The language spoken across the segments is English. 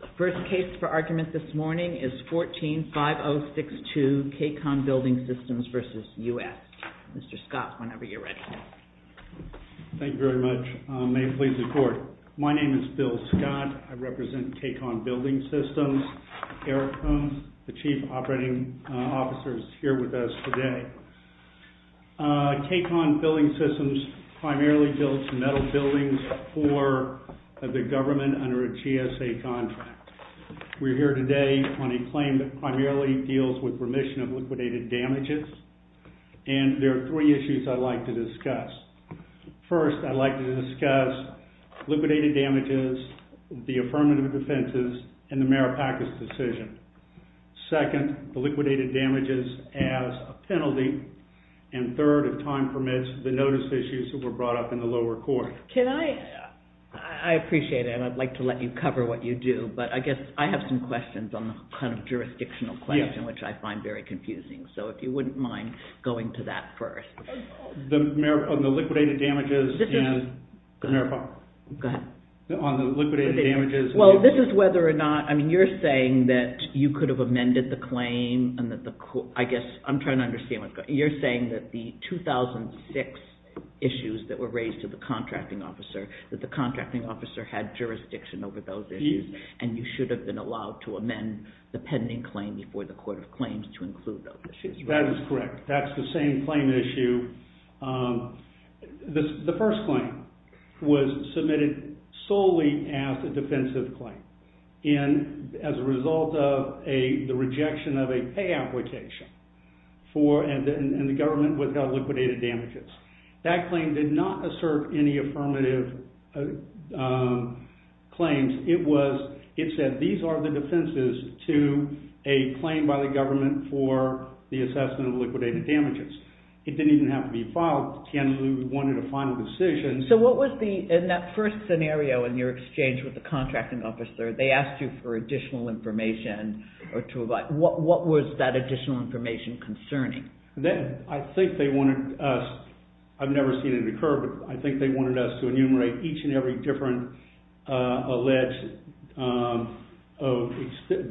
The first case for argument this morning is 14-5062, K-Con Building Systems v. U.S. Mr. Scott, whenever you're ready. Thank you very much. May it please the Court. My name is Bill Scott. I represent K-Con Building Systems. Eric Holmes, the Chief Operating Officer, is here with us today. K-Con Building Systems primarily deals with metal buildings for the government under a GSA contract. We're here today on a claim that primarily deals with remission of liquidated damages, and there are three issues I'd like to discuss. First, I'd like to discuss liquidated damages, the affirmative defenses, and the Maripakas decision. Second, the liquidated damages as a penalty. And third, if time permits, the notice issues that were brought up in the lower court. Can I... I appreciate it, and I'd like to let you cover what you do, but I guess I have some questions on the kind of jurisdictional question, which I find very confusing. So if you wouldn't mind going to that first. On the liquidated damages and the Maripakas... Go ahead. On the liquidated damages... Well, this is whether or not... I mean, you're saying that you could have amended the claim, and that the court... I guess I'm trying to understand what's going on. You're saying that the 2006 issues that were raised to the contracting officer, that the contracting officer had jurisdiction over those issues, and you should have been allowed to amend the pending claim before the court of claims to include those issues. That is correct. That's the same claim issue. The first claim was submitted solely as a defensive claim, and as a result of the rejection of a pay application for... and the government withheld liquidated damages. That claim did not assert any affirmative claims. It was... it said, these are the defenses to a claim by the government for the assessment of liquidated damages. It didn't even have to be filed. We wanted a final decision. So what was the... in that first scenario, in your exchange with the contracting officer, they asked you for additional information or to... what was that additional information concerning? I think they wanted us... I've never seen it occur, but I think they wanted us to enumerate each and every different alleged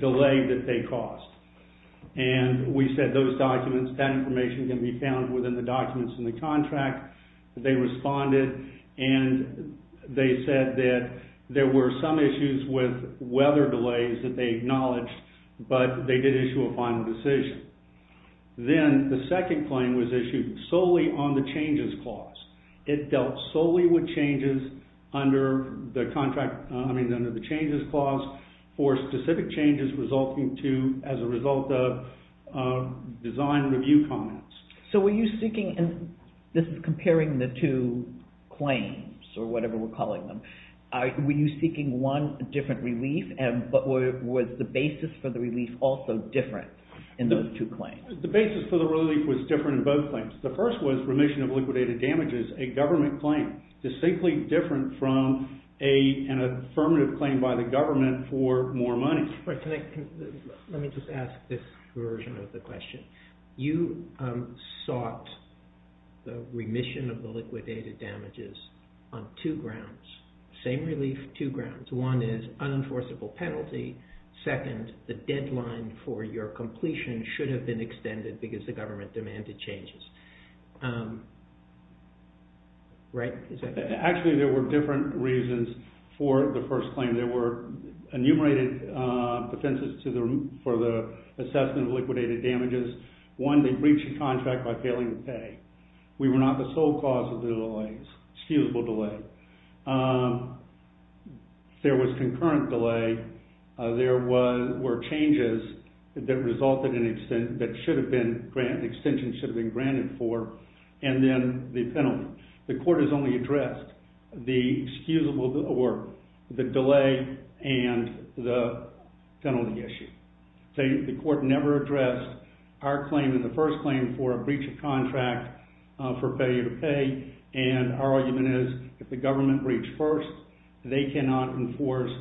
delay that they caused. And we said those documents, that information can be found within the documents in the contract. They responded, and they said that there were some issues with weather delays that they acknowledged, but they did issue a final decision. Then the second claim was issued solely on the changes clause. It dealt solely with changes under the contract... as a result of design review comments. So were you seeking... this is comparing the two claims, or whatever we're calling them. Were you seeking one different relief, but was the basis for the relief also different in those two claims? The basis for the relief was different in both claims. The first was remission of liquidated damages, a government claim, distinctly different from an affirmative claim by the government for more money. Let me just ask this version of the question. You sought the remission of the liquidated damages on two grounds. Same relief, two grounds. One is unenforceable penalty. Second, the deadline for your completion should have been extended because the government demanded changes. Actually, there were different reasons for the first claim. There were enumerated offenses for the assessment of liquidated damages. One, they breached the contract by failing to pay. We were not the sole cause of the delays. Excusable delay. There was concurrent delay. There were changes that resulted in... that should have been granted... extensions should have been granted for. And then the penalty. The court has only addressed the excusable... for the delay and the penalty issue. The court never addressed our claim in the first claim for a breach of contract for failure to pay. And our argument is if the government breached first, they cannot enforce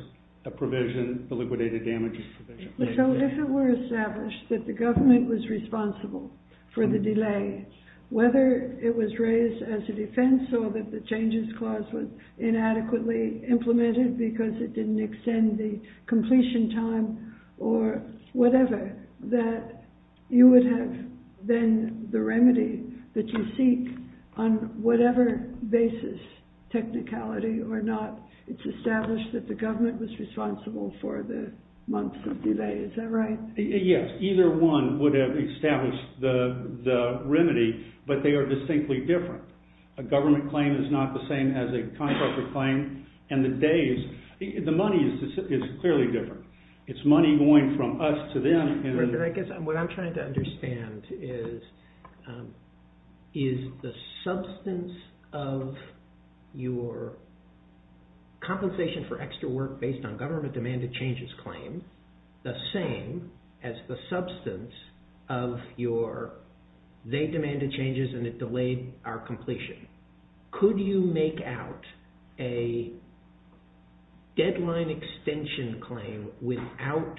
a provision, the liquidated damages provision. So if it were established that the government was responsible for the delay, whether it was raised as a defense or that the changes clause was inadequately implemented because it didn't extend the completion time or whatever, that you would have then the remedy that you seek on whatever basis, technicality or not, it's established that the government was responsible for the months of delay. Is that right? Yes, either one would have established the remedy, but they are distinctly different. A government claim is not the same as a contractor claim. And the days... the money is clearly different. It's money going from us to them. I guess what I'm trying to understand is the substance of your compensation for extra work based on government-demanded-changes claim the same as the substance of your they-demanded-changes and it delayed our completion. Could you make out a deadline-extension claim without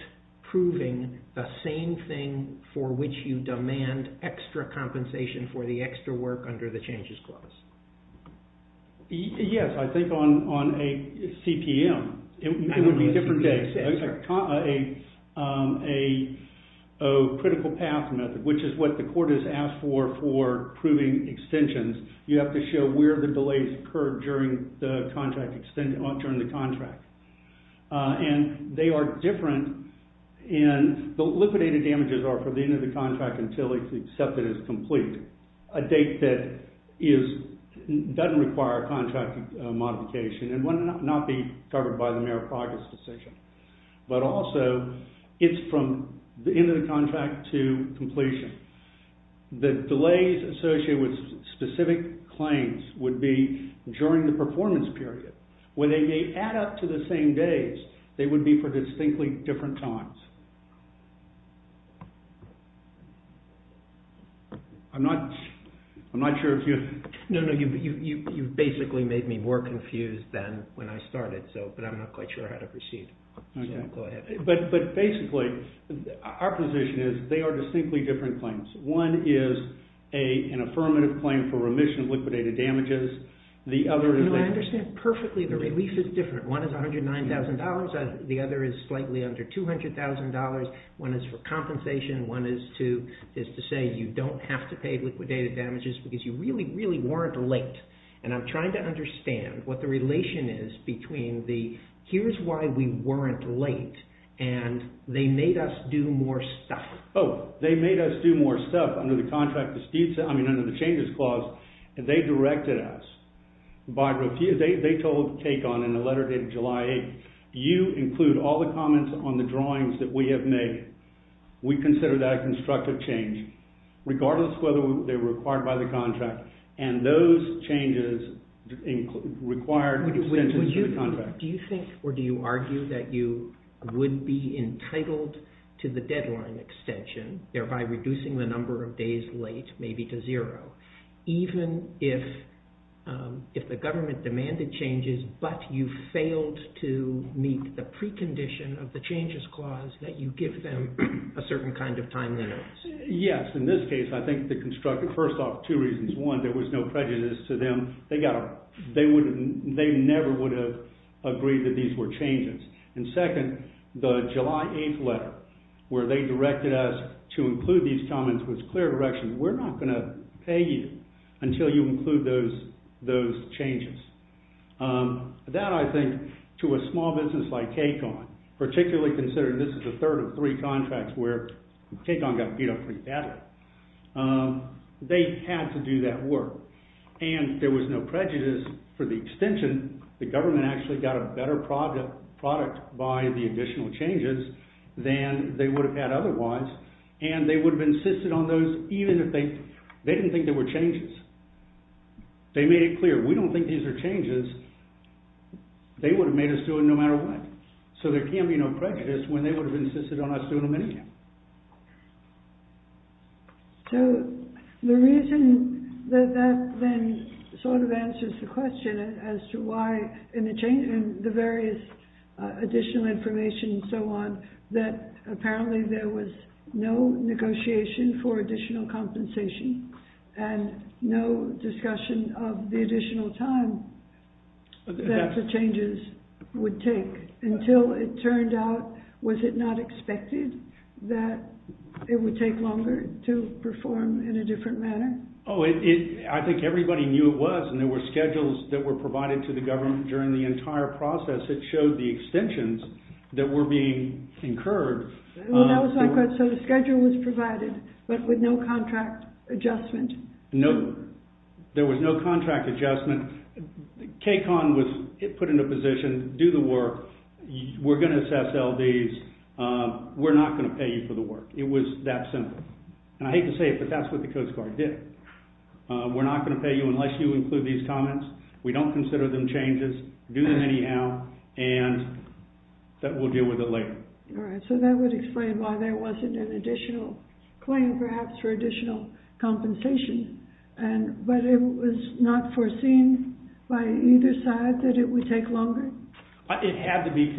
proving the same thing for which you demand extra compensation for the extra work under the changes clause? Yes, I think on a CPM. It would be a different case. A critical path method, which is what the court has asked for proving extensions. You have to show where the delays occurred during the contract. And they are different. And the liquidated damages are for the end of the contract until it's accepted as complete. A date that doesn't require a contract modification and would not be covered by the Merit Progress Decision. But also, it's from the end of the contract to completion. The delays associated with specific claims would be during the performance period. When they may add up to the same days, they would be for distinctly different times. I'm not sure if you... No, you basically made me more confused than when I started. But I'm not quite sure how to proceed. But basically, our position is they are distinctly different claims. One is an affirmative claim for remission of liquidated damages. I understand perfectly the relief is different. One is $109,000. The other is slightly under $200,000. One is for compensation. One is to say you don't have to pay liquidated damages because you really, really weren't late. And I'm trying to understand what the relation is between the, here's why we weren't late and they made us do more stuff. Oh, they made us do more stuff under the contract... I mean, under the Changes Clause. They directed us. They told Kacon in a letter dated July 8th, you include all the comments on the drawings that we have made. We consider that a constructive change, regardless of whether they were required by the contract. And those changes required extensions to the contract. Do you think or do you argue that you would be entitled to the deadline extension, thereby reducing the number of days late maybe to zero, even if the government demanded changes but you failed to meet the precondition of the Changes Clause that you give them a certain kind of time limit? Yes, in this case, I think the constructive... there was no prejudice to them. They never would have agreed that these were changes. And second, the July 8th letter, where they directed us to include these comments with clear direction, we're not going to pay you until you include those changes. That, I think, to a small business like Kacon, particularly considering this is the third of three contracts where Kacon got beat up pretty badly, they had to do that work. And there was no prejudice for the extension. The government actually got a better product by the additional changes than they would have had otherwise. And they would have insisted on those even if they didn't think they were changes. They made it clear, we don't think these are changes. They would have made us do it no matter what. So there can be no prejudice when they would have insisted on us doing them anyway. So the reason that that then sort of answers the question as to why in the various additional information and so on, that apparently there was no negotiation for additional compensation and no discussion of the additional time that the changes would take. Until it turned out, was it not expected that it would take longer to perform in a different manner? Oh, I think everybody knew it was. And there were schedules that were provided to the government during the entire process that showed the extensions that were being incurred. So the schedule was provided, but with no contract adjustment? No, there was no contract adjustment. Kacon was put in a position, do the work. We're going to assess LDs. We're not going to pay you for the work. It was that simple. And I hate to say it, but that's what the Coast Guard did. We're not going to pay you unless you include these comments. We don't consider them changes. Do them anyhow, and we'll deal with it later. All right, so that would explain why there wasn't an additional claim, perhaps, for additional compensation. But it was not foreseen by either side that it would take longer? It had to be...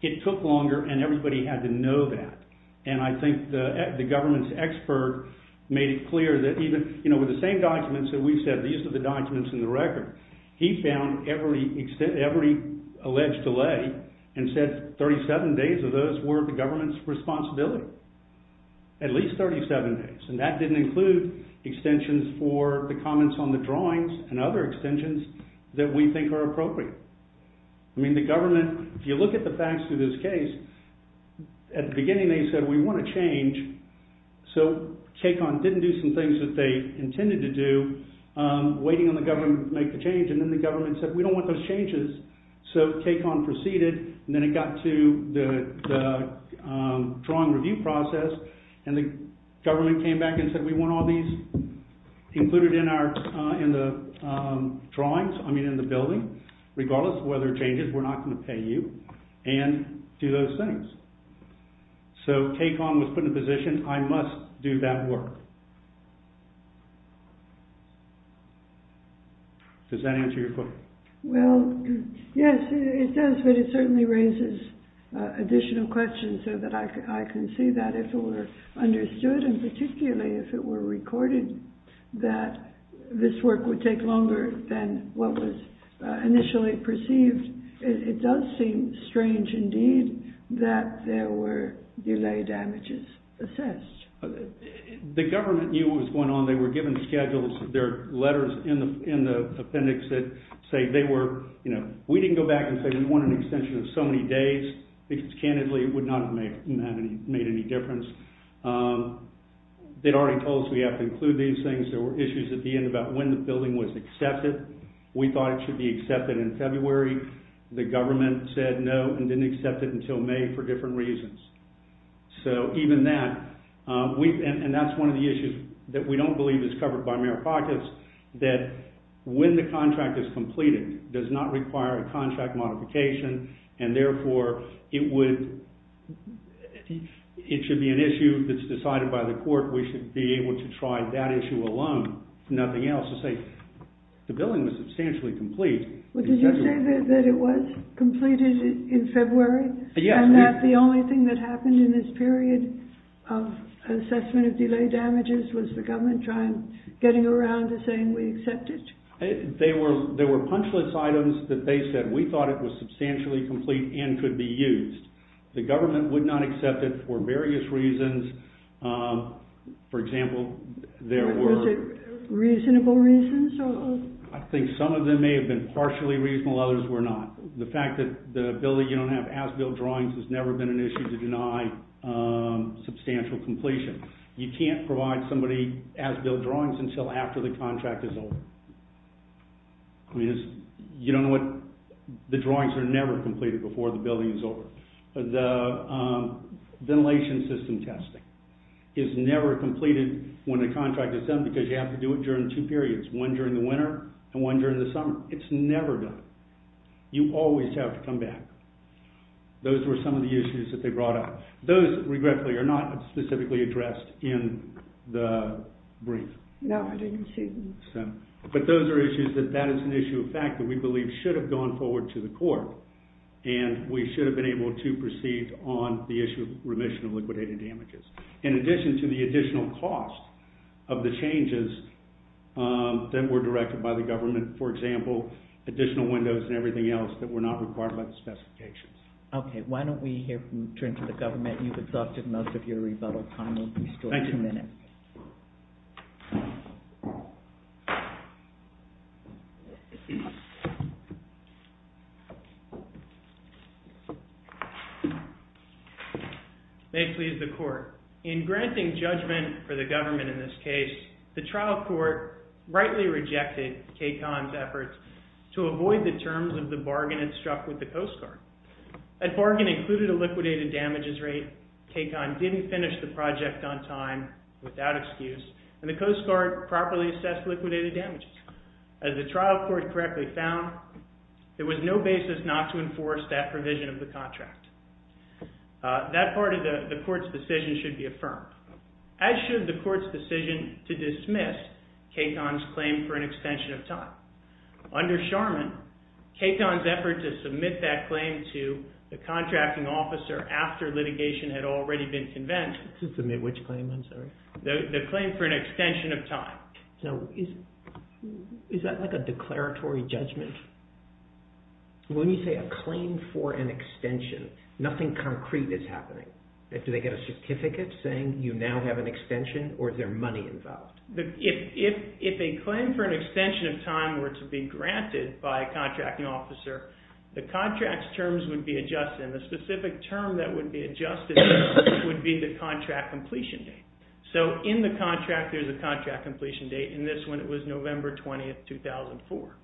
It took longer, and everybody had to know that. And I think the government's expert made it clear that even... You know, with the same documents that we said, these are the documents in the record, he found every alleged delay and said 37 days of those were the government's responsibility. At least 37 days. And that didn't include extensions for the comments on the drawings and other extensions that we think are appropriate. I mean, the government... If you look at the facts of this case, at the beginning they said, we want a change. So KCON didn't do some things that they intended to do, waiting on the government to make the change, and then the government said, we don't want those changes. So KCON proceeded, and then it got to the drawing review process, and the government came back and said, we want all these included in the drawings, I mean, in the building, regardless of whether it changes, we're not going to pay you, and do those things. So KCON was put in a position, I must do that work. Does that answer your question? Well, yes, it does, but it certainly raises additional questions so that I can see that if it were understood, and particularly if it were recorded, that this work would take longer than what was initially perceived. It does seem strange indeed that there were delay damages assessed. The government knew what was going on. They were given schedules. There are letters in the appendix that say they were... You know, we didn't go back and say we want an extension of so many days, because, candidly, it would not have made any difference. They'd already told us we have to include these things. There were issues at the end about when the building was accepted. We thought it should be accepted in February. The government said no and didn't accept it until May for different reasons. So even that... And that's one of the issues that we don't believe is covered by merit practice, that when the contract is completed does not require a contract modification, and therefore it would... It should be an issue that's decided by the court. We should be able to try that issue alone, nothing else, to say the building was substantially complete. But did you say that it was completed in February? Yes. And that the only thing that happened in this period of assessment of delay damages was the government getting around to saying we accept it? There were punchless items that they said we thought it was substantially complete and could be used. The government would not accept it for various reasons. For example, there were... Was it reasonable reasons? I think some of them may have been partially reasonable, others were not. The fact that the building you don't have as-built drawings has never been an issue to deny substantial completion. You can't provide somebody as-built drawings until after the contract is over. I mean, you don't know what... The drawings are never completed before the building is over. The ventilation system testing is never completed when the contract is done because you have to do it during two periods, one during the winter and one during the summer. It's never done. You always have to come back. Those were some of the issues that they brought up. Those, regretfully, are not specifically addressed in the brief. No, I didn't see them. But those are issues that that is an issue of fact that we believe should have gone forward to the court and we should have been able to proceed on the issue of remission of liquidated damages. In addition to the additional cost of the changes that were directed by the government, for example, additional windows and everything else that were not required by the specifications. Okay, why don't we hear from... Turn to the government. You've exhausted most of your rebuttal time. We still have two minutes. May it please the court. In granting judgment for the government in this case, the trial court rightly rejected KCON's efforts to avoid the terms of the bargain it struck with the Coast Guard. That bargain included a liquidated damages rate. KCON didn't finish the project on time without excuse and the Coast Guard properly assessed liquidated damages. As the trial court correctly found, there was no basis not to enforce that provision of the contract. That part of the court's decision should be affirmed, as should the court's decision to dismiss KCON's claim for an extension of time. Under Charmin, KCON's effort to submit that claim to the contracting officer after litigation had already been convent... To submit which claim, I'm sorry? The claim for an extension of time. Now, is that like a declaratory judgment? When you say a claim for an extension, nothing concrete is happening. Do they get a certificate saying you now have an extension or is there money involved? If a claim for an extension of time were to be granted by a contracting officer, the contract's terms would be adjusted and the specific term that would be adjusted would be the contract completion date. So in the contract, there's a contract completion date. In this one, it was November 20th, 2004.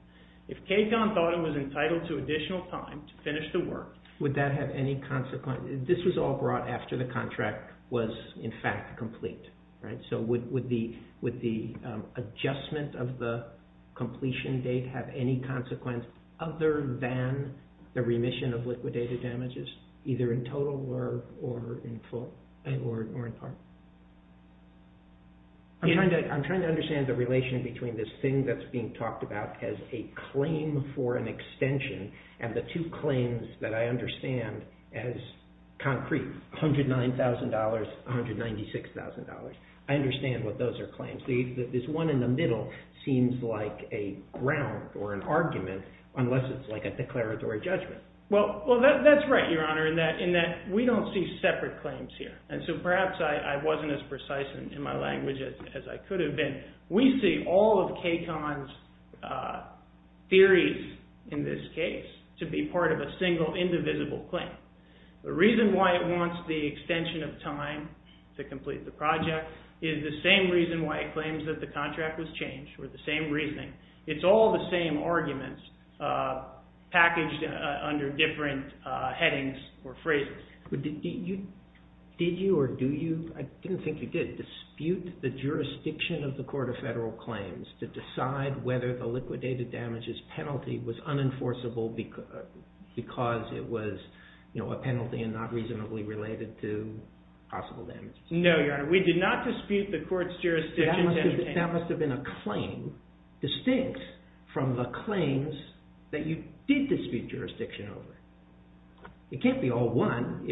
If KCON thought it was entitled to additional time to finish the work... Would that have any consequence? This was all brought after the contract was in fact complete. So would the adjustment of the completion date have any consequence other than the remission of liquidated damages, either in total or in part? I'm trying to understand the relation between this thing that's being talked about as a claim for an extension and the two claims that I understand as concrete, $109,000, $196,000. I understand what those are claims. Obviously, this one in the middle seems like a ground or an argument unless it's like a declaratory judgment. Well, that's right, Your Honor, in that we don't see separate claims here. And so perhaps I wasn't as precise in my language as I could have been. We see all of KCON's theories in this case to be part of a single indivisible claim. The reason why it wants the extension of time to complete the project is the same reason why it claims that the contract was changed or the same reasoning. It's all the same arguments packaged under different headings or phrases. Did you or do you, I didn't think you did, dispute the jurisdiction of the Court of Federal Claims to decide whether the liquidated damages penalty was unenforceable because it was a penalty and not reasonably related to possible damages? No, Your Honor. We did not dispute the court's jurisdiction. That must have been a claim distinct from the claims that you did dispute jurisdiction over. It can't be all one.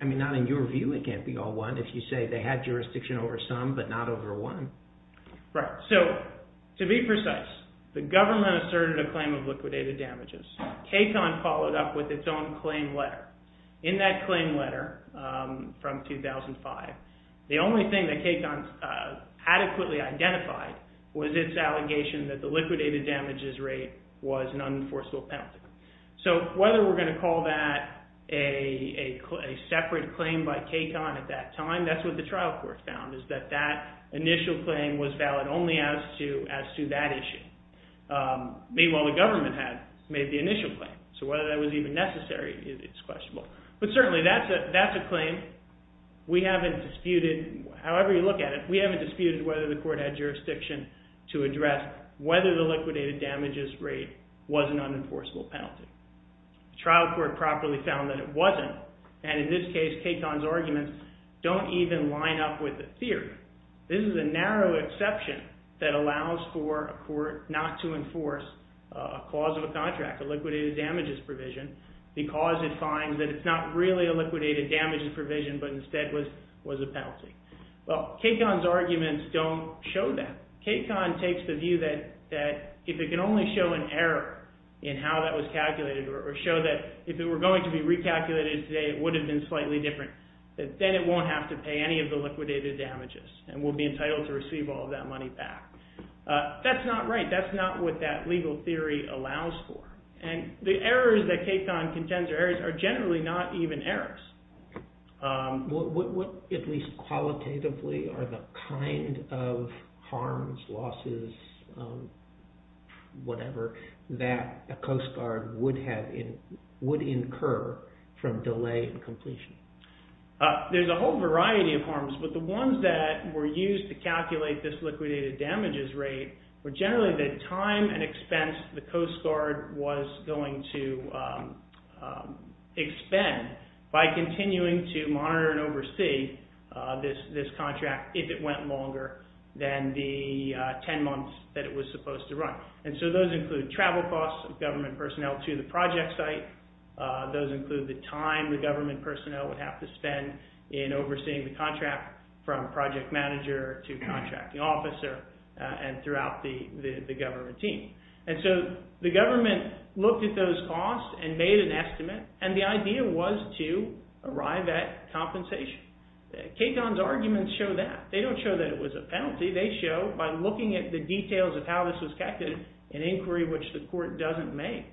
I mean, not in your view, it can't be all one. If you say they had jurisdiction over some but not over one. Right. So to be precise, the government asserted a claim of liquidated damages. KCON followed up with its own claim letter. In that claim letter from 2005, the only thing that KCON adequately identified was its allegation that the liquidated damages rate was an unenforceable penalty. So whether we're going to call that a separate claim by KCON at that time, that's what the trial court found, is that that initial claim was valid only as to that issue. Meanwhile, the government had made the initial claim. So whether that was even necessary is questionable. But certainly that's a claim. We haven't disputed, however you look at it, we haven't disputed whether the court had jurisdiction to address whether the liquidated damages rate was an unenforceable penalty. The trial court properly found that it wasn't. And in this case, KCON's arguments don't even line up with the theory. This is a narrow exception that allows for a court not to enforce a clause of a contract, a liquidated damages provision, because it finds that it's not really a liquidated damages provision but instead was a penalty. Well, KCON's arguments don't show that. KCON takes the view that if it can only show an error in how that was calculated, or show that if it were going to be recalculated today it would have been slightly different, then it won't have to pay any of the liquidated damages and will be entitled to receive all of that money back. That's not right. That's not what that legal theory allows for. And the errors that KCON contends are errors are generally not even errors. What, at least qualitatively, are the kind of harms, losses, whatever, that a Coast Guard would incur from delay in completion? There's a whole variety of harms, but the ones that were used to calculate this liquidated damages rate were generally the time and expense the Coast Guard was going to expend by continuing to monitor and oversee this contract if it went longer than the 10 months that it was supposed to run. And so those include travel costs of government personnel to the project site. in overseeing the contract from project manager to contracting officer and throughout the government team. And so the government looked at those costs and made an estimate, and the idea was to arrive at compensation. KCON's arguments show that. They don't show that it was a penalty. They show by looking at the details of how this was calculated, an inquiry which the court doesn't make,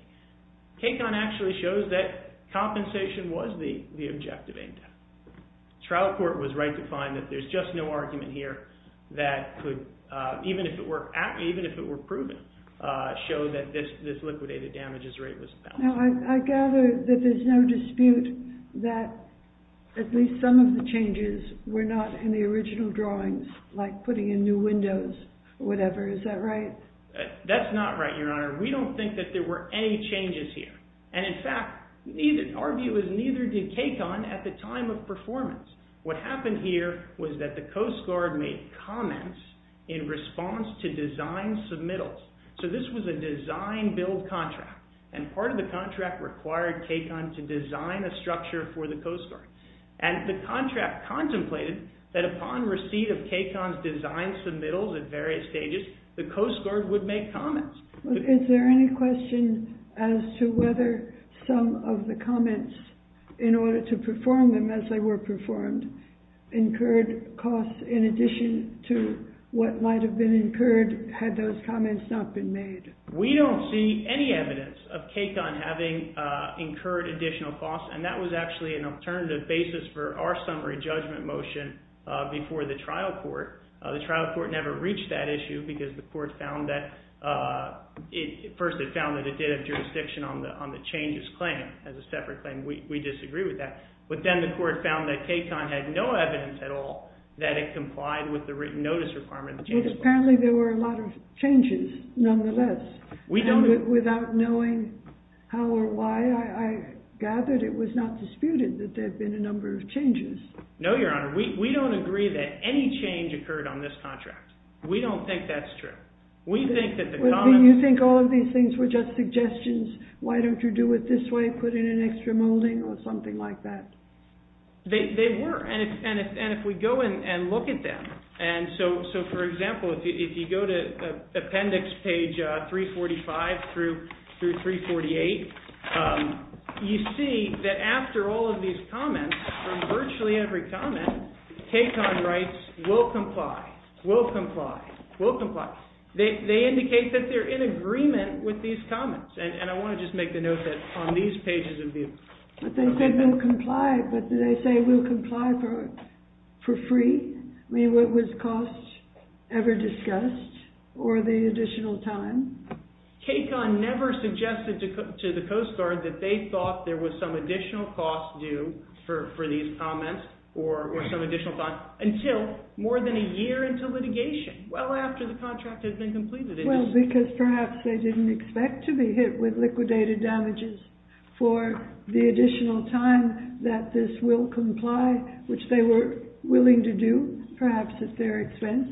KCON actually shows that compensation was the objective aimed at. Trial court was right to find that there's just no argument here that could, even if it were proven, show that this liquidated damages rate was a penalty. I gather that there's no dispute that at least some of the changes were not in the original drawings, like putting in new windows or whatever. Is that right? That's not right, Your Honor. We don't think that there were any changes here. And, in fact, our view is neither did KCON at the time of performance. What happened here was that the Coast Guard made comments in response to design submittals. So this was a design-build contract, and part of the contract required KCON to design a structure for the Coast Guard. And the contract contemplated that upon receipt of KCON's design submittals at various stages, the Coast Guard would make comments. Is there any question as to whether some of the comments, in order to perform them as they were performed, incurred costs in addition to what might have been incurred had those comments not been made? We don't see any evidence of KCON having incurred additional costs, and that was actually an alternative basis for our summary judgment motion before the trial court. The trial court never reached that issue because the court found that it did have jurisdiction on the changes claim as a separate claim. We disagree with that. But then the court found that KCON had no evidence at all that it complied with the written notice requirement. But apparently there were a lot of changes, nonetheless. Without knowing how or why, I gathered it was not disputed that there had been a number of changes. No, Your Honor. We don't agree that any change occurred on this contract. We don't think that's true. You think all of these things were just suggestions, why don't you do it this way, put in an extra molding, or something like that? They were, and if we go and look at them. So, for example, if you go to appendix page 345 through 348, you see that after all of these comments, from virtually every comment, KCON writes, We'll comply. We'll comply. We'll comply. They indicate that they're in agreement with these comments. And I want to just make the note that on these pages of view. But they said we'll comply. But did they say we'll comply for free? I mean, was cost ever discussed? Or the additional time? KCON never suggested to the Coast Guard that they thought there was some additional cost due for these comments, or some additional time, until more than a year into litigation, well after the contract had been completed. Well, because perhaps they didn't expect to be hit with liquidated damages for the additional time that this will comply, which they were willing to do, perhaps at their expense.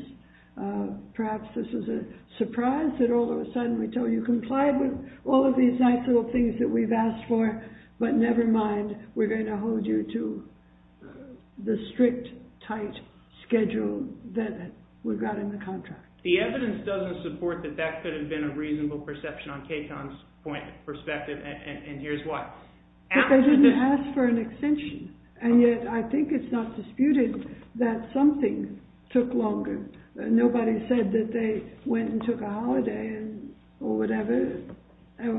Perhaps this was a surprise that all of a sudden we told you we'll comply with all of these nice little things that we've asked for, but never mind. We're going to hold you to the strict, tight schedule that we've got in the contract. The evidence doesn't support that that could have been a reasonable perception on KCON's point of perspective, and here's why. But they didn't ask for an extension. And yet I think it's not disputed that something took longer. Nobody said that they went and took a holiday or whatever,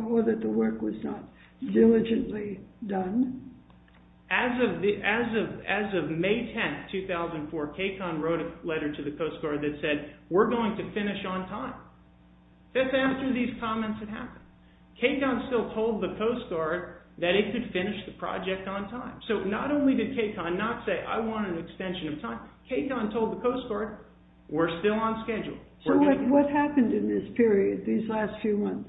or that the work was not diligently done. As of May 10, 2004, KCON wrote a letter to the Coast Guard that said, we're going to finish on time. That's after these comments had happened. KCON still told the Coast Guard that it could finish the project on time. So not only did KCON not say, I want an extension of time, KCON told the Coast Guard, we're still on schedule. So what happened in this period, these last few months?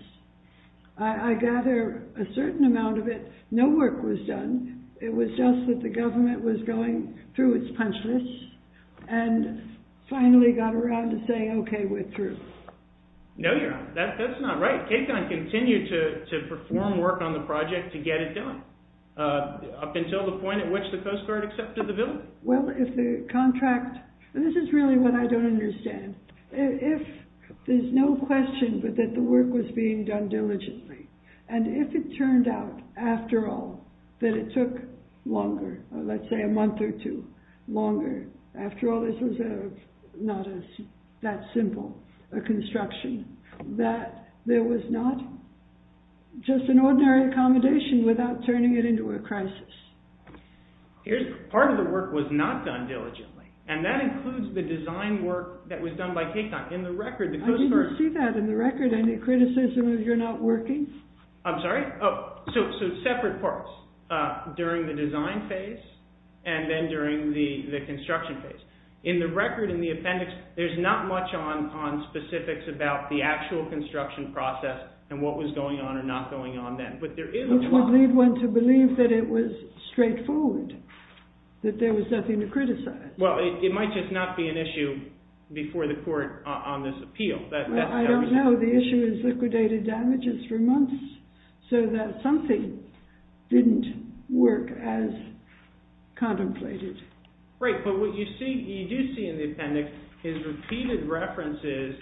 I gather a certain amount of it, no work was done. It was just that the government was going through its punch list and finally got around to saying, okay, we're through. No, Your Honor, that's not right. KCON continued to perform work on the project to get it done, up until the point at which the Coast Guard accepted the bill. Well, if the contract... This is really what I don't understand. If there's no question but that the work was being done diligently, and if it turned out, after all, that it took longer, let's say a month or two longer, after all this was not that simple a construction, that there was not just an ordinary accommodation without turning it into a crisis? Part of the work was not done diligently, and that includes the design work that was done by KCON. In the record, the Coast Guard... I didn't see that in the record. Any criticism of your not working? I'm sorry? So separate parts, during the design phase and then during the construction phase. In the record, in the appendix, there's not much on specifics about the actual construction process and what was going on or not going on then. Which would lead one to believe that it was straightforward, that there was nothing to criticize. Well, it might just not be an issue before the court on this appeal. I don't know. The issue is liquidated damages for months so that something didn't work as contemplated. Right, but what you do see in the appendix is repeated references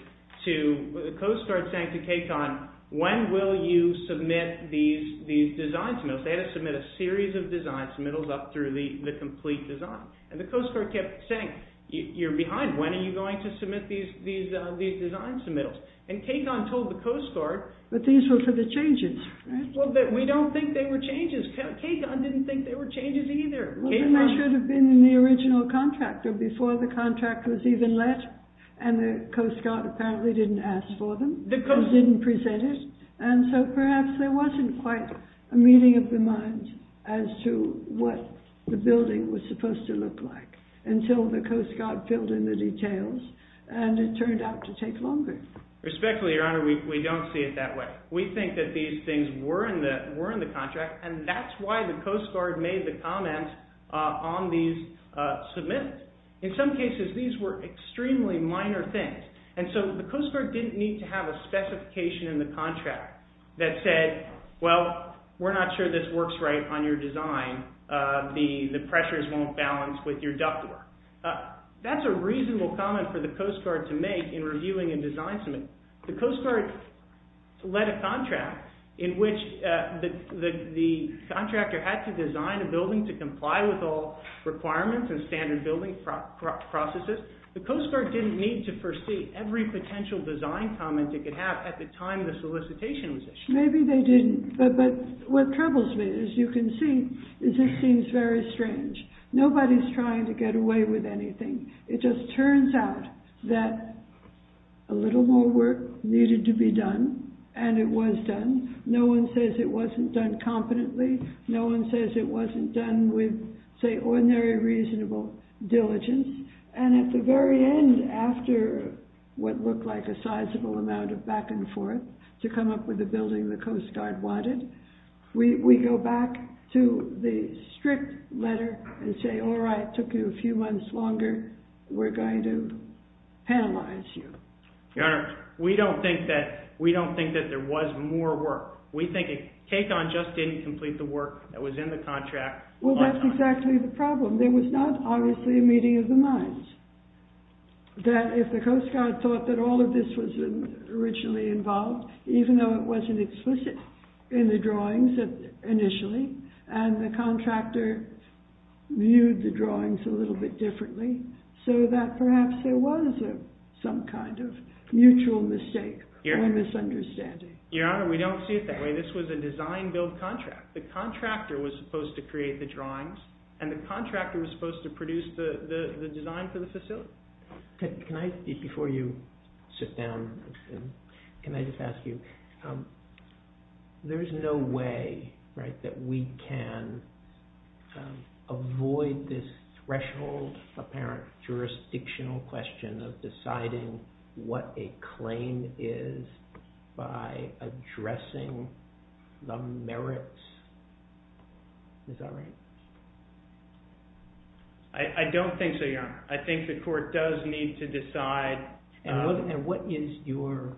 to the Coast Guard saying to KCON, when will you submit these design submittals? They had to submit a series of design submittals up through the complete design. And the Coast Guard kept saying, you're behind, when are you going to submit these design submittals? And KCON told the Coast Guard... But these were for the changes, right? Well, we don't think they were changes. KCON didn't think they were changes either. Well, then they should have been in the original contract or before the contract was even let. And the Coast Guard apparently didn't ask for them. They didn't present it. And so perhaps there wasn't quite a meeting of the minds as to what the building was supposed to look like until the Coast Guard filled in the details and it turned out to take longer. Respectfully, Your Honor, we don't see it that way. We think that these things were in the contract and that's why the Coast Guard made the comments on these submittals. In some cases, these were extremely minor things. And so the Coast Guard didn't need to have a specification in the contract that said, well, we're not sure this works right on your design. The pressures won't balance with your duct work. That's a reasonable comment for the Coast Guard to make in reviewing a design submittal. The Coast Guard led a contract in which the contractor had to design a building to comply with all requirements and standard building processes. The Coast Guard didn't need to foresee every potential design comment it could have at the time the solicitation was issued. Maybe they didn't. But what troubles me, as you can see, is it seems very strange. Nobody's trying to get away with anything. It just turns out that a little more work needed to be done and it was done. No one says it wasn't done competently. No one says it wasn't done with, say, ordinary reasonable diligence. And at the very end, after what looked like a sizable amount of back and forth to come up with the building the Coast Guard wanted, we go back to the strict letter and say, all right, it took you a few months longer. We're going to penalize you. Your Honor, we don't think that there was more work. We think KCON just didn't complete the work that was in the contract. Well, that's exactly the problem. There was not, obviously, a meeting of the minds, that if the Coast Guard thought that all of this was originally involved, even though it wasn't explicit in the drawings initially and the contractor viewed the drawings a little bit differently, so that perhaps there was some kind of mutual mistake or misunderstanding. Your Honor, we don't see it that way. This was a design-build contract. The contractor was supposed to create the drawings and the contractor was supposed to produce the design for the facility. Can I speak before you sit down? Can I just ask you, there's no way that we can avoid this threshold, apparent jurisdictional question of deciding what a claim is by addressing the merits. Is that right? I don't think so, Your Honor. I think the court does need to decide. And what is your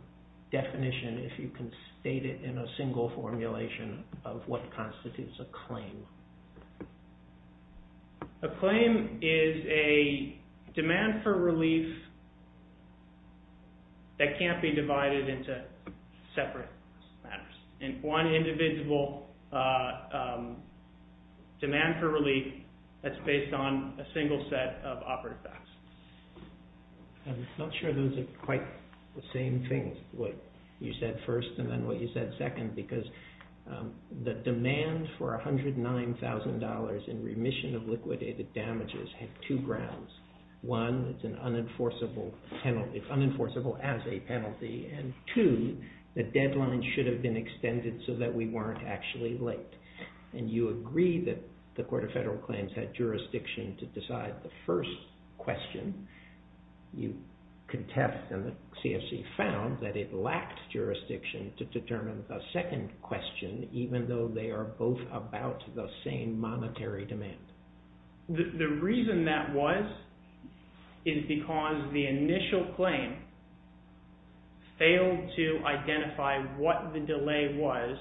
definition, if you can state it in a single formulation, of what constitutes a claim? A claim is a demand for relief that can't be divided into separate matters. And one individual demand for relief that's based on a single set of operative facts. I'm not sure those are quite the same things, what you said first and then what you said second, because the demand for $109,000 in remission of liquidated damages had two grounds. One, it's unenforceable as a penalty, and two, the deadline should have been extended so that we weren't actually late. And you agree that the Court of Federal Claims had jurisdiction to decide the first question. You contest and the CFC found that it lacked jurisdiction to determine the second question, even though they are both about the same monetary demand. The reason that was is because the initial claim failed to identify what the delay was.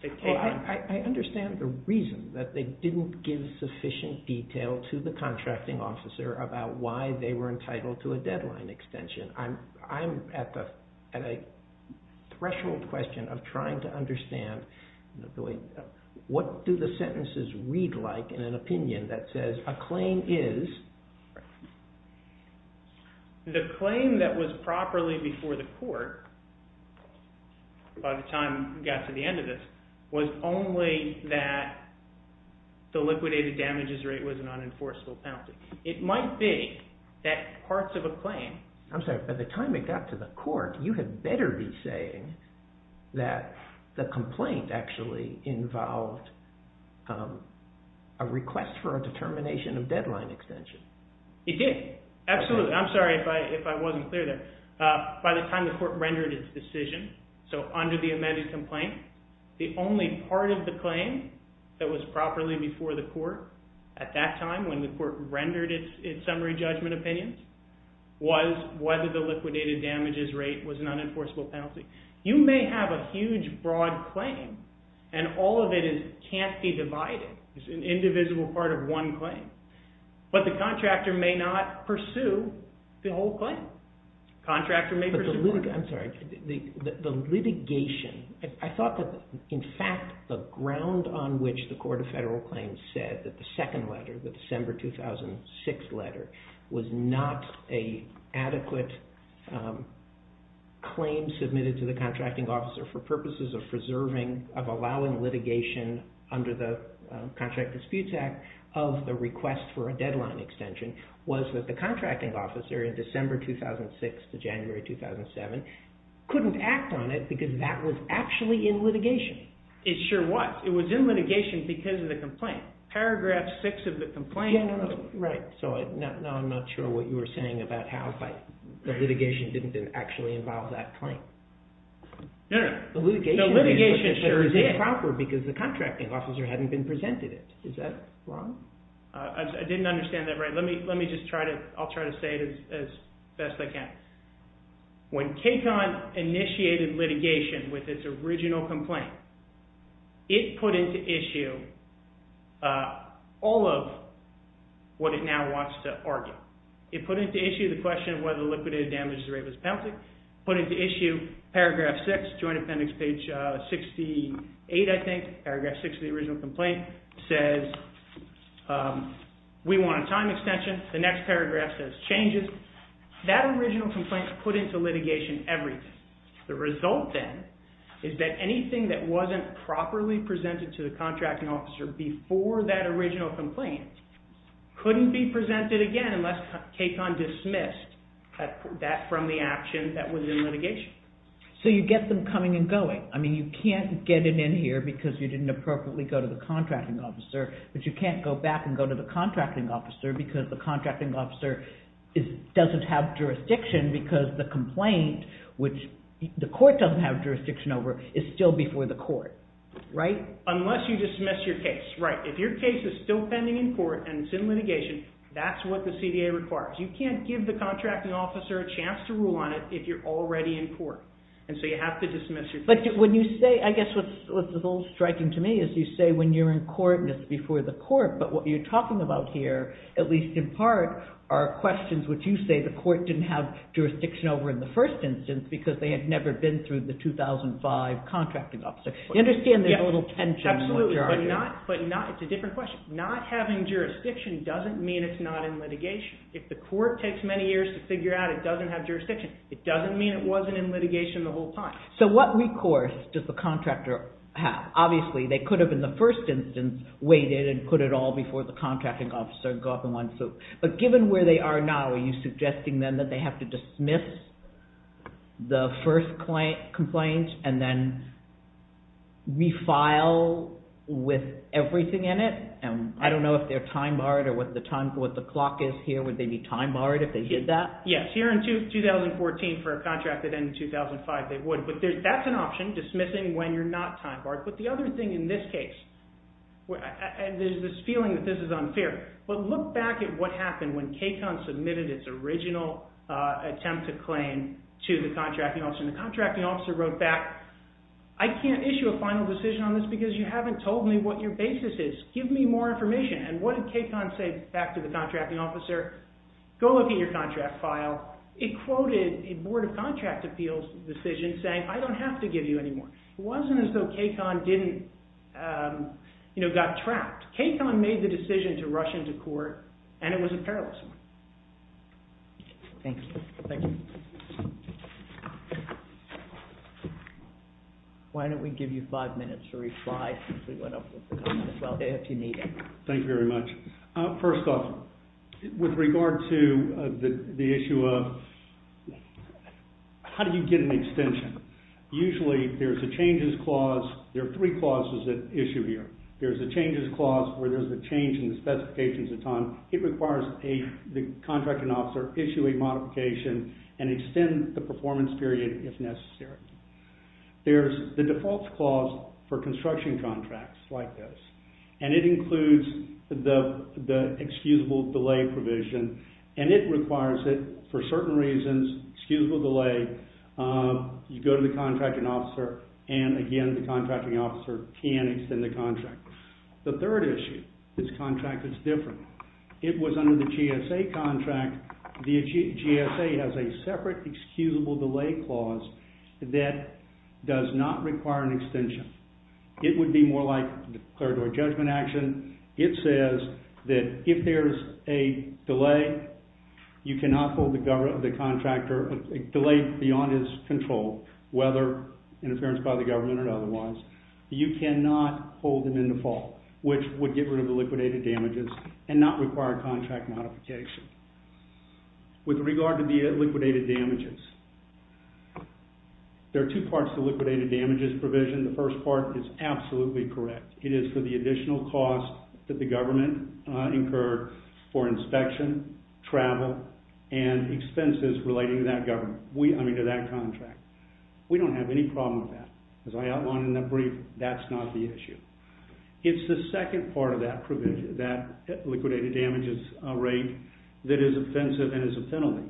I understand the reason that they didn't give sufficient detail to the contracting officer about why they were entitled to a deadline extension. I'm at a threshold question of trying to understand what do the sentences read like in an opinion that says a claim is... The claim that was properly before the court by the time we got to the end of this was only that the liquidated damages rate was an unenforceable penalty. It might be that parts of a claim... I'm sorry, by the time it got to the court, you had better be saying that the complaint actually involved a request for a determination of deadline extension. It did, absolutely. I'm sorry if I wasn't clear there. By the time the court rendered its decision, so under the amended complaint, the only part of the claim that was properly before the court at that time when the court rendered its summary judgment opinions was whether the liquidated damages rate was an unenforceable penalty. You may have a huge broad claim and all of it can't be divided. It's an individual part of one claim. But the contractor may not pursue the whole claim. Contractor may pursue... I'm sorry, the litigation... I thought that in fact the ground on which the Court of Federal Claims said that the second letter, the December 2006 letter, was not an adequate claim submitted to the contracting officer for purposes of preserving, of allowing litigation under the Contract Disputes Act of the request for a deadline extension was that the contracting officer in December 2006 to January 2007 couldn't act on it because that was actually in litigation. It sure was. It was in litigation because of the complaint. Paragraph 6 of the complaint... Right, so now I'm not sure what you were saying about how the litigation didn't actually involve that claim. No, no. The litigation should have been proper because the contracting officer hadn't been presented it. Is that wrong? I didn't understand that right. Let me just try to... I'll try to say it as best I can. When KCON initiated litigation with its original complaint, it put into issue all of what it now wants to argue. It put into issue the question of whether the liquidated damages rate was penalty. It put into issue paragraph 6, Joint Appendix page 68, I think, paragraph 6 of the original complaint, says we want a time extension. The next paragraph says changes. That original complaint put into litigation everything. The result then is that anything that wasn't properly presented to the contracting officer before that original complaint couldn't be presented again unless KCON dismissed that from the action that was in litigation. So you get them coming and going. I mean, you can't get it in here because you didn't appropriately go to the contracting officer, but you can't go back and go to the contracting officer because the contracting officer doesn't have jurisdiction because the complaint, which the court doesn't have jurisdiction over, is still before the court, right? Unless you dismiss your case, right. If your case is still pending in court and it's in litigation, that's what the CDA requires. You can't give the contracting officer a chance to rule on it if you're already in court, and so you have to dismiss your case. But when you say, I guess what's a little striking to me is you say when you're in court and it's before the court, but what you're talking about here, at least in part, are questions which you say the court didn't have jurisdiction over in the first instance because they had never been through the 2005 contracting officer. You understand there's a little tension? Absolutely, but it's a different question. Not having jurisdiction doesn't mean it's not in litigation. If the court takes many years to figure out it doesn't have jurisdiction, it doesn't mean it wasn't in litigation the whole time. So what recourse does the contractor have? Obviously, they could have in the first instance waited and put it all before the contracting officer and go off in one swoop. But given where they are now, are you suggesting then that they have to dismiss the first complaint and then refile with everything in it? I don't know if they're time-barred or what the clock is here. Would they be time-barred if they did that? Yes, here in 2014 for a contract that ended in 2005, they would. But that's an option, dismissing when you're not time-barred. But the other thing in this case, and there's this feeling that this is unfair, but look back at what happened when CAECON submitted its original attempt to claim to the contracting officer. The contracting officer wrote back, I can't issue a final decision on this because you haven't told me what your basis is. Give me more information. And what did CAECON say back to the contracting officer? Go look at your contract file. It quoted a Board of Contract Appeals decision saying, I don't have to give you any more. It wasn't as though CAECON got trapped. CAECON made the decision to rush into court, and it was a perilous one. Thank you. Thank you. Why don't we give you five minutes to reply if you need it. Thank you very much. First off, with regard to the issue of how do you get an extension? Usually there's a changes clause. There are three clauses at issue here. There's a changes clause where there's a change in the specifications it's on. It requires the contracting officer issue a modification and extend the performance period if necessary. There's the default clause for construction contracts like this, and it includes the excusable delay provision, and it requires that for certain reasons, excusable delay, you go to the contracting officer, and again, the contracting officer can extend the contract. The third issue, this contract is different. It was under the GSA contract. The GSA has a separate excusable delay clause that does not require an extension. It would be more like the third-door judgment action. It says that if there's a delay, you cannot hold the contractor, a delay beyond his control, whether interference by the government or otherwise, you cannot hold them in default, which would get rid of the liquidated damages and not require contract modification. With regard to the liquidated damages, there are two parts to liquidated damages provision. The first part is absolutely correct. It is for the additional cost that the government incurred for inspection, travel, and expenses relating to that government, I mean, to that contract. We don't have any problem with that. As I outlined in the brief, that's not the issue. It's the second part of that liquidated damages rate that is offensive and is a penalty.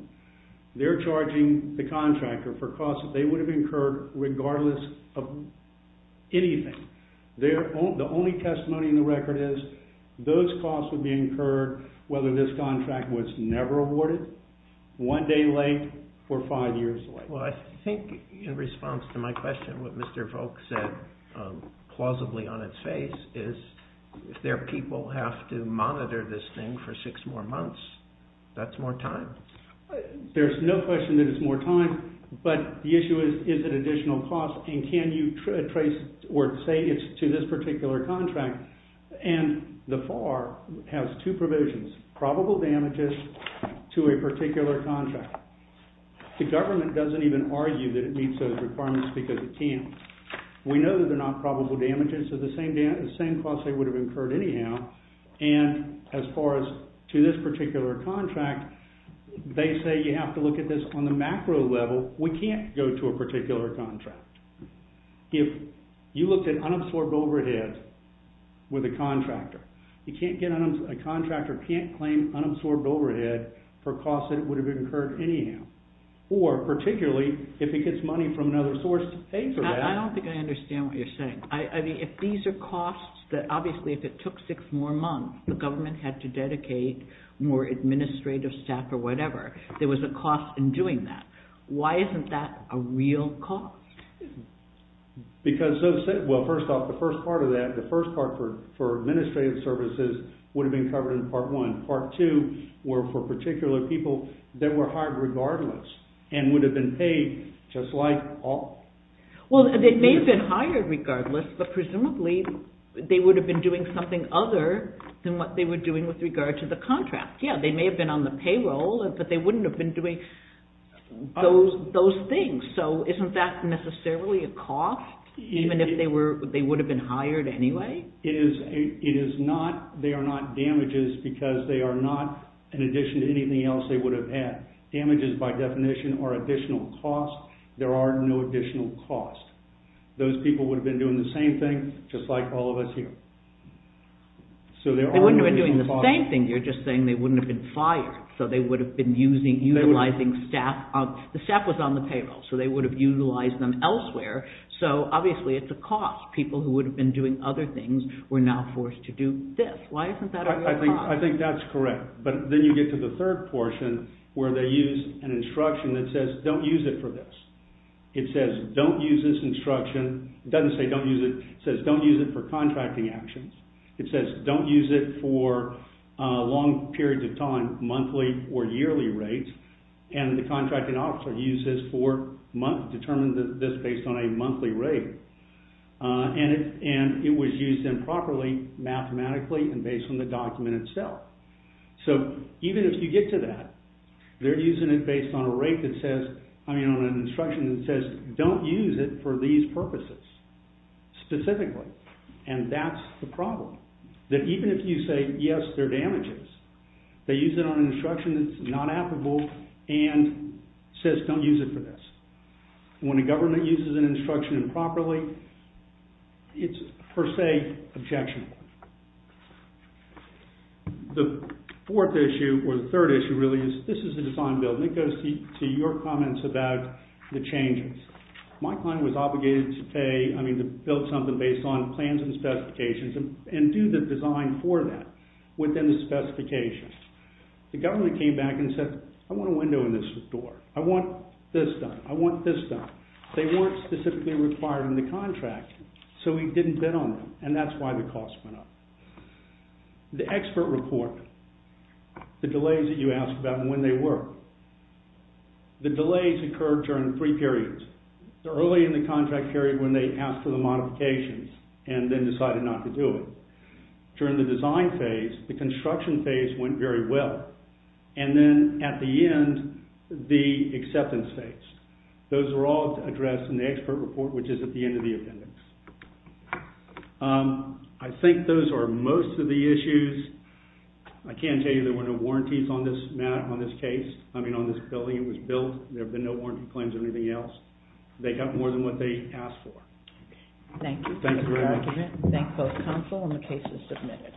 They're charging the contractor for costs that they would have incurred regardless of anything. The only testimony in the record is those costs would be incurred whether this contract was never awarded, one day late, or five years late. Well, I think in response to my question, what Mr. Volk said plausibly on its face is if their people have to monitor this thing for six more months, that's more time. There's no question that it's more time, but the issue is is it additional cost and can you trace or say it's to this particular contract? And the FAR has two provisions, probable damages to a particular contract. The government doesn't even argue that it meets those requirements because it can't. We know that they're not probable damages to the same cost they would have incurred anyhow, and as far as to this particular contract, they say you have to look at this on the macro level. We can't go to a particular contract. If you looked at unabsorbed overhead with a contractor, a contractor can't claim unabsorbed overhead for costs that would have incurred anyhow, or particularly if it gets money from another source to pay for that. I don't think I understand what you're saying. If these are costs that obviously if it took six more months, the government had to dedicate more administrative staff or whatever. There was a cost in doing that. Why isn't that a real cost? Because, well, first off, the first part of that, the first part for administrative services would have been covered in Part 1. Part 2 were for particular people that were hired regardless and would have been paid just like all. Well, they may have been hired regardless, but presumably they would have been doing something other than what they were doing with regard to the contract. Yeah, they may have been on the payroll, but they wouldn't have been doing those things. So isn't that necessarily a cost, even if they would have been hired anyway? It is not. They are not damages because they are not, in addition to anything else they would have had. Damages, by definition, are additional costs. There are no additional costs. Those people would have been doing the same thing, just like all of us here. They wouldn't have been doing the same thing. You're just saying they wouldn't have been fired, so they would have been utilizing staff. The staff was on the payroll, so they would have utilized them elsewhere. So, obviously, it's a cost. People who would have been doing other things were now forced to do this. Why isn't that a real cost? I think that's correct, but then you get to the third portion where they use an instruction that says, don't use it for this. It says, don't use this instruction. It doesn't say don't use it. It says, don't use it for contracting actions. It says, don't use it for long periods of time, monthly or yearly rates, and the contracting officer uses for months. They're using this based on a monthly rate, and it was used improperly mathematically and based on the document itself. So, even if you get to that, they're using it based on a rate that says, I mean, on an instruction that says, don't use it for these purposes, specifically, and that's the problem, that even if you say, yes, they're damages, they use it on an instruction that's not applicable and says, don't use it for this. When a government uses an instruction improperly, it's, per se, objectionable. The fourth issue, or the third issue, really, is this is a design build, and it goes to your comments about the changes. My client was obligated to pay, I mean, to build something based on plans and specifications and do the design for that within the specifications. The government came back and said, I want a window in this door. I want this done. I want this done. They weren't specifically required in the contract, so we didn't bid on them, and that's why the cost went up. The expert report, the delays that you asked about and when they were, the delays occurred during three periods. Early in the contract period, when they asked for the modifications and then decided not to do it. During the design phase, the construction phase went very well, and then at the end, the acceptance phase. Those are all addressed in the expert report, which is at the end of the appendix. I think those are most of the issues. I can tell you there were no warranties on this case, I mean, on this building. It was built. There have been no warranty claims or anything else. They got more than what they asked for. Thank you. Thank you for that. Thank both counsel, and the case is submitted.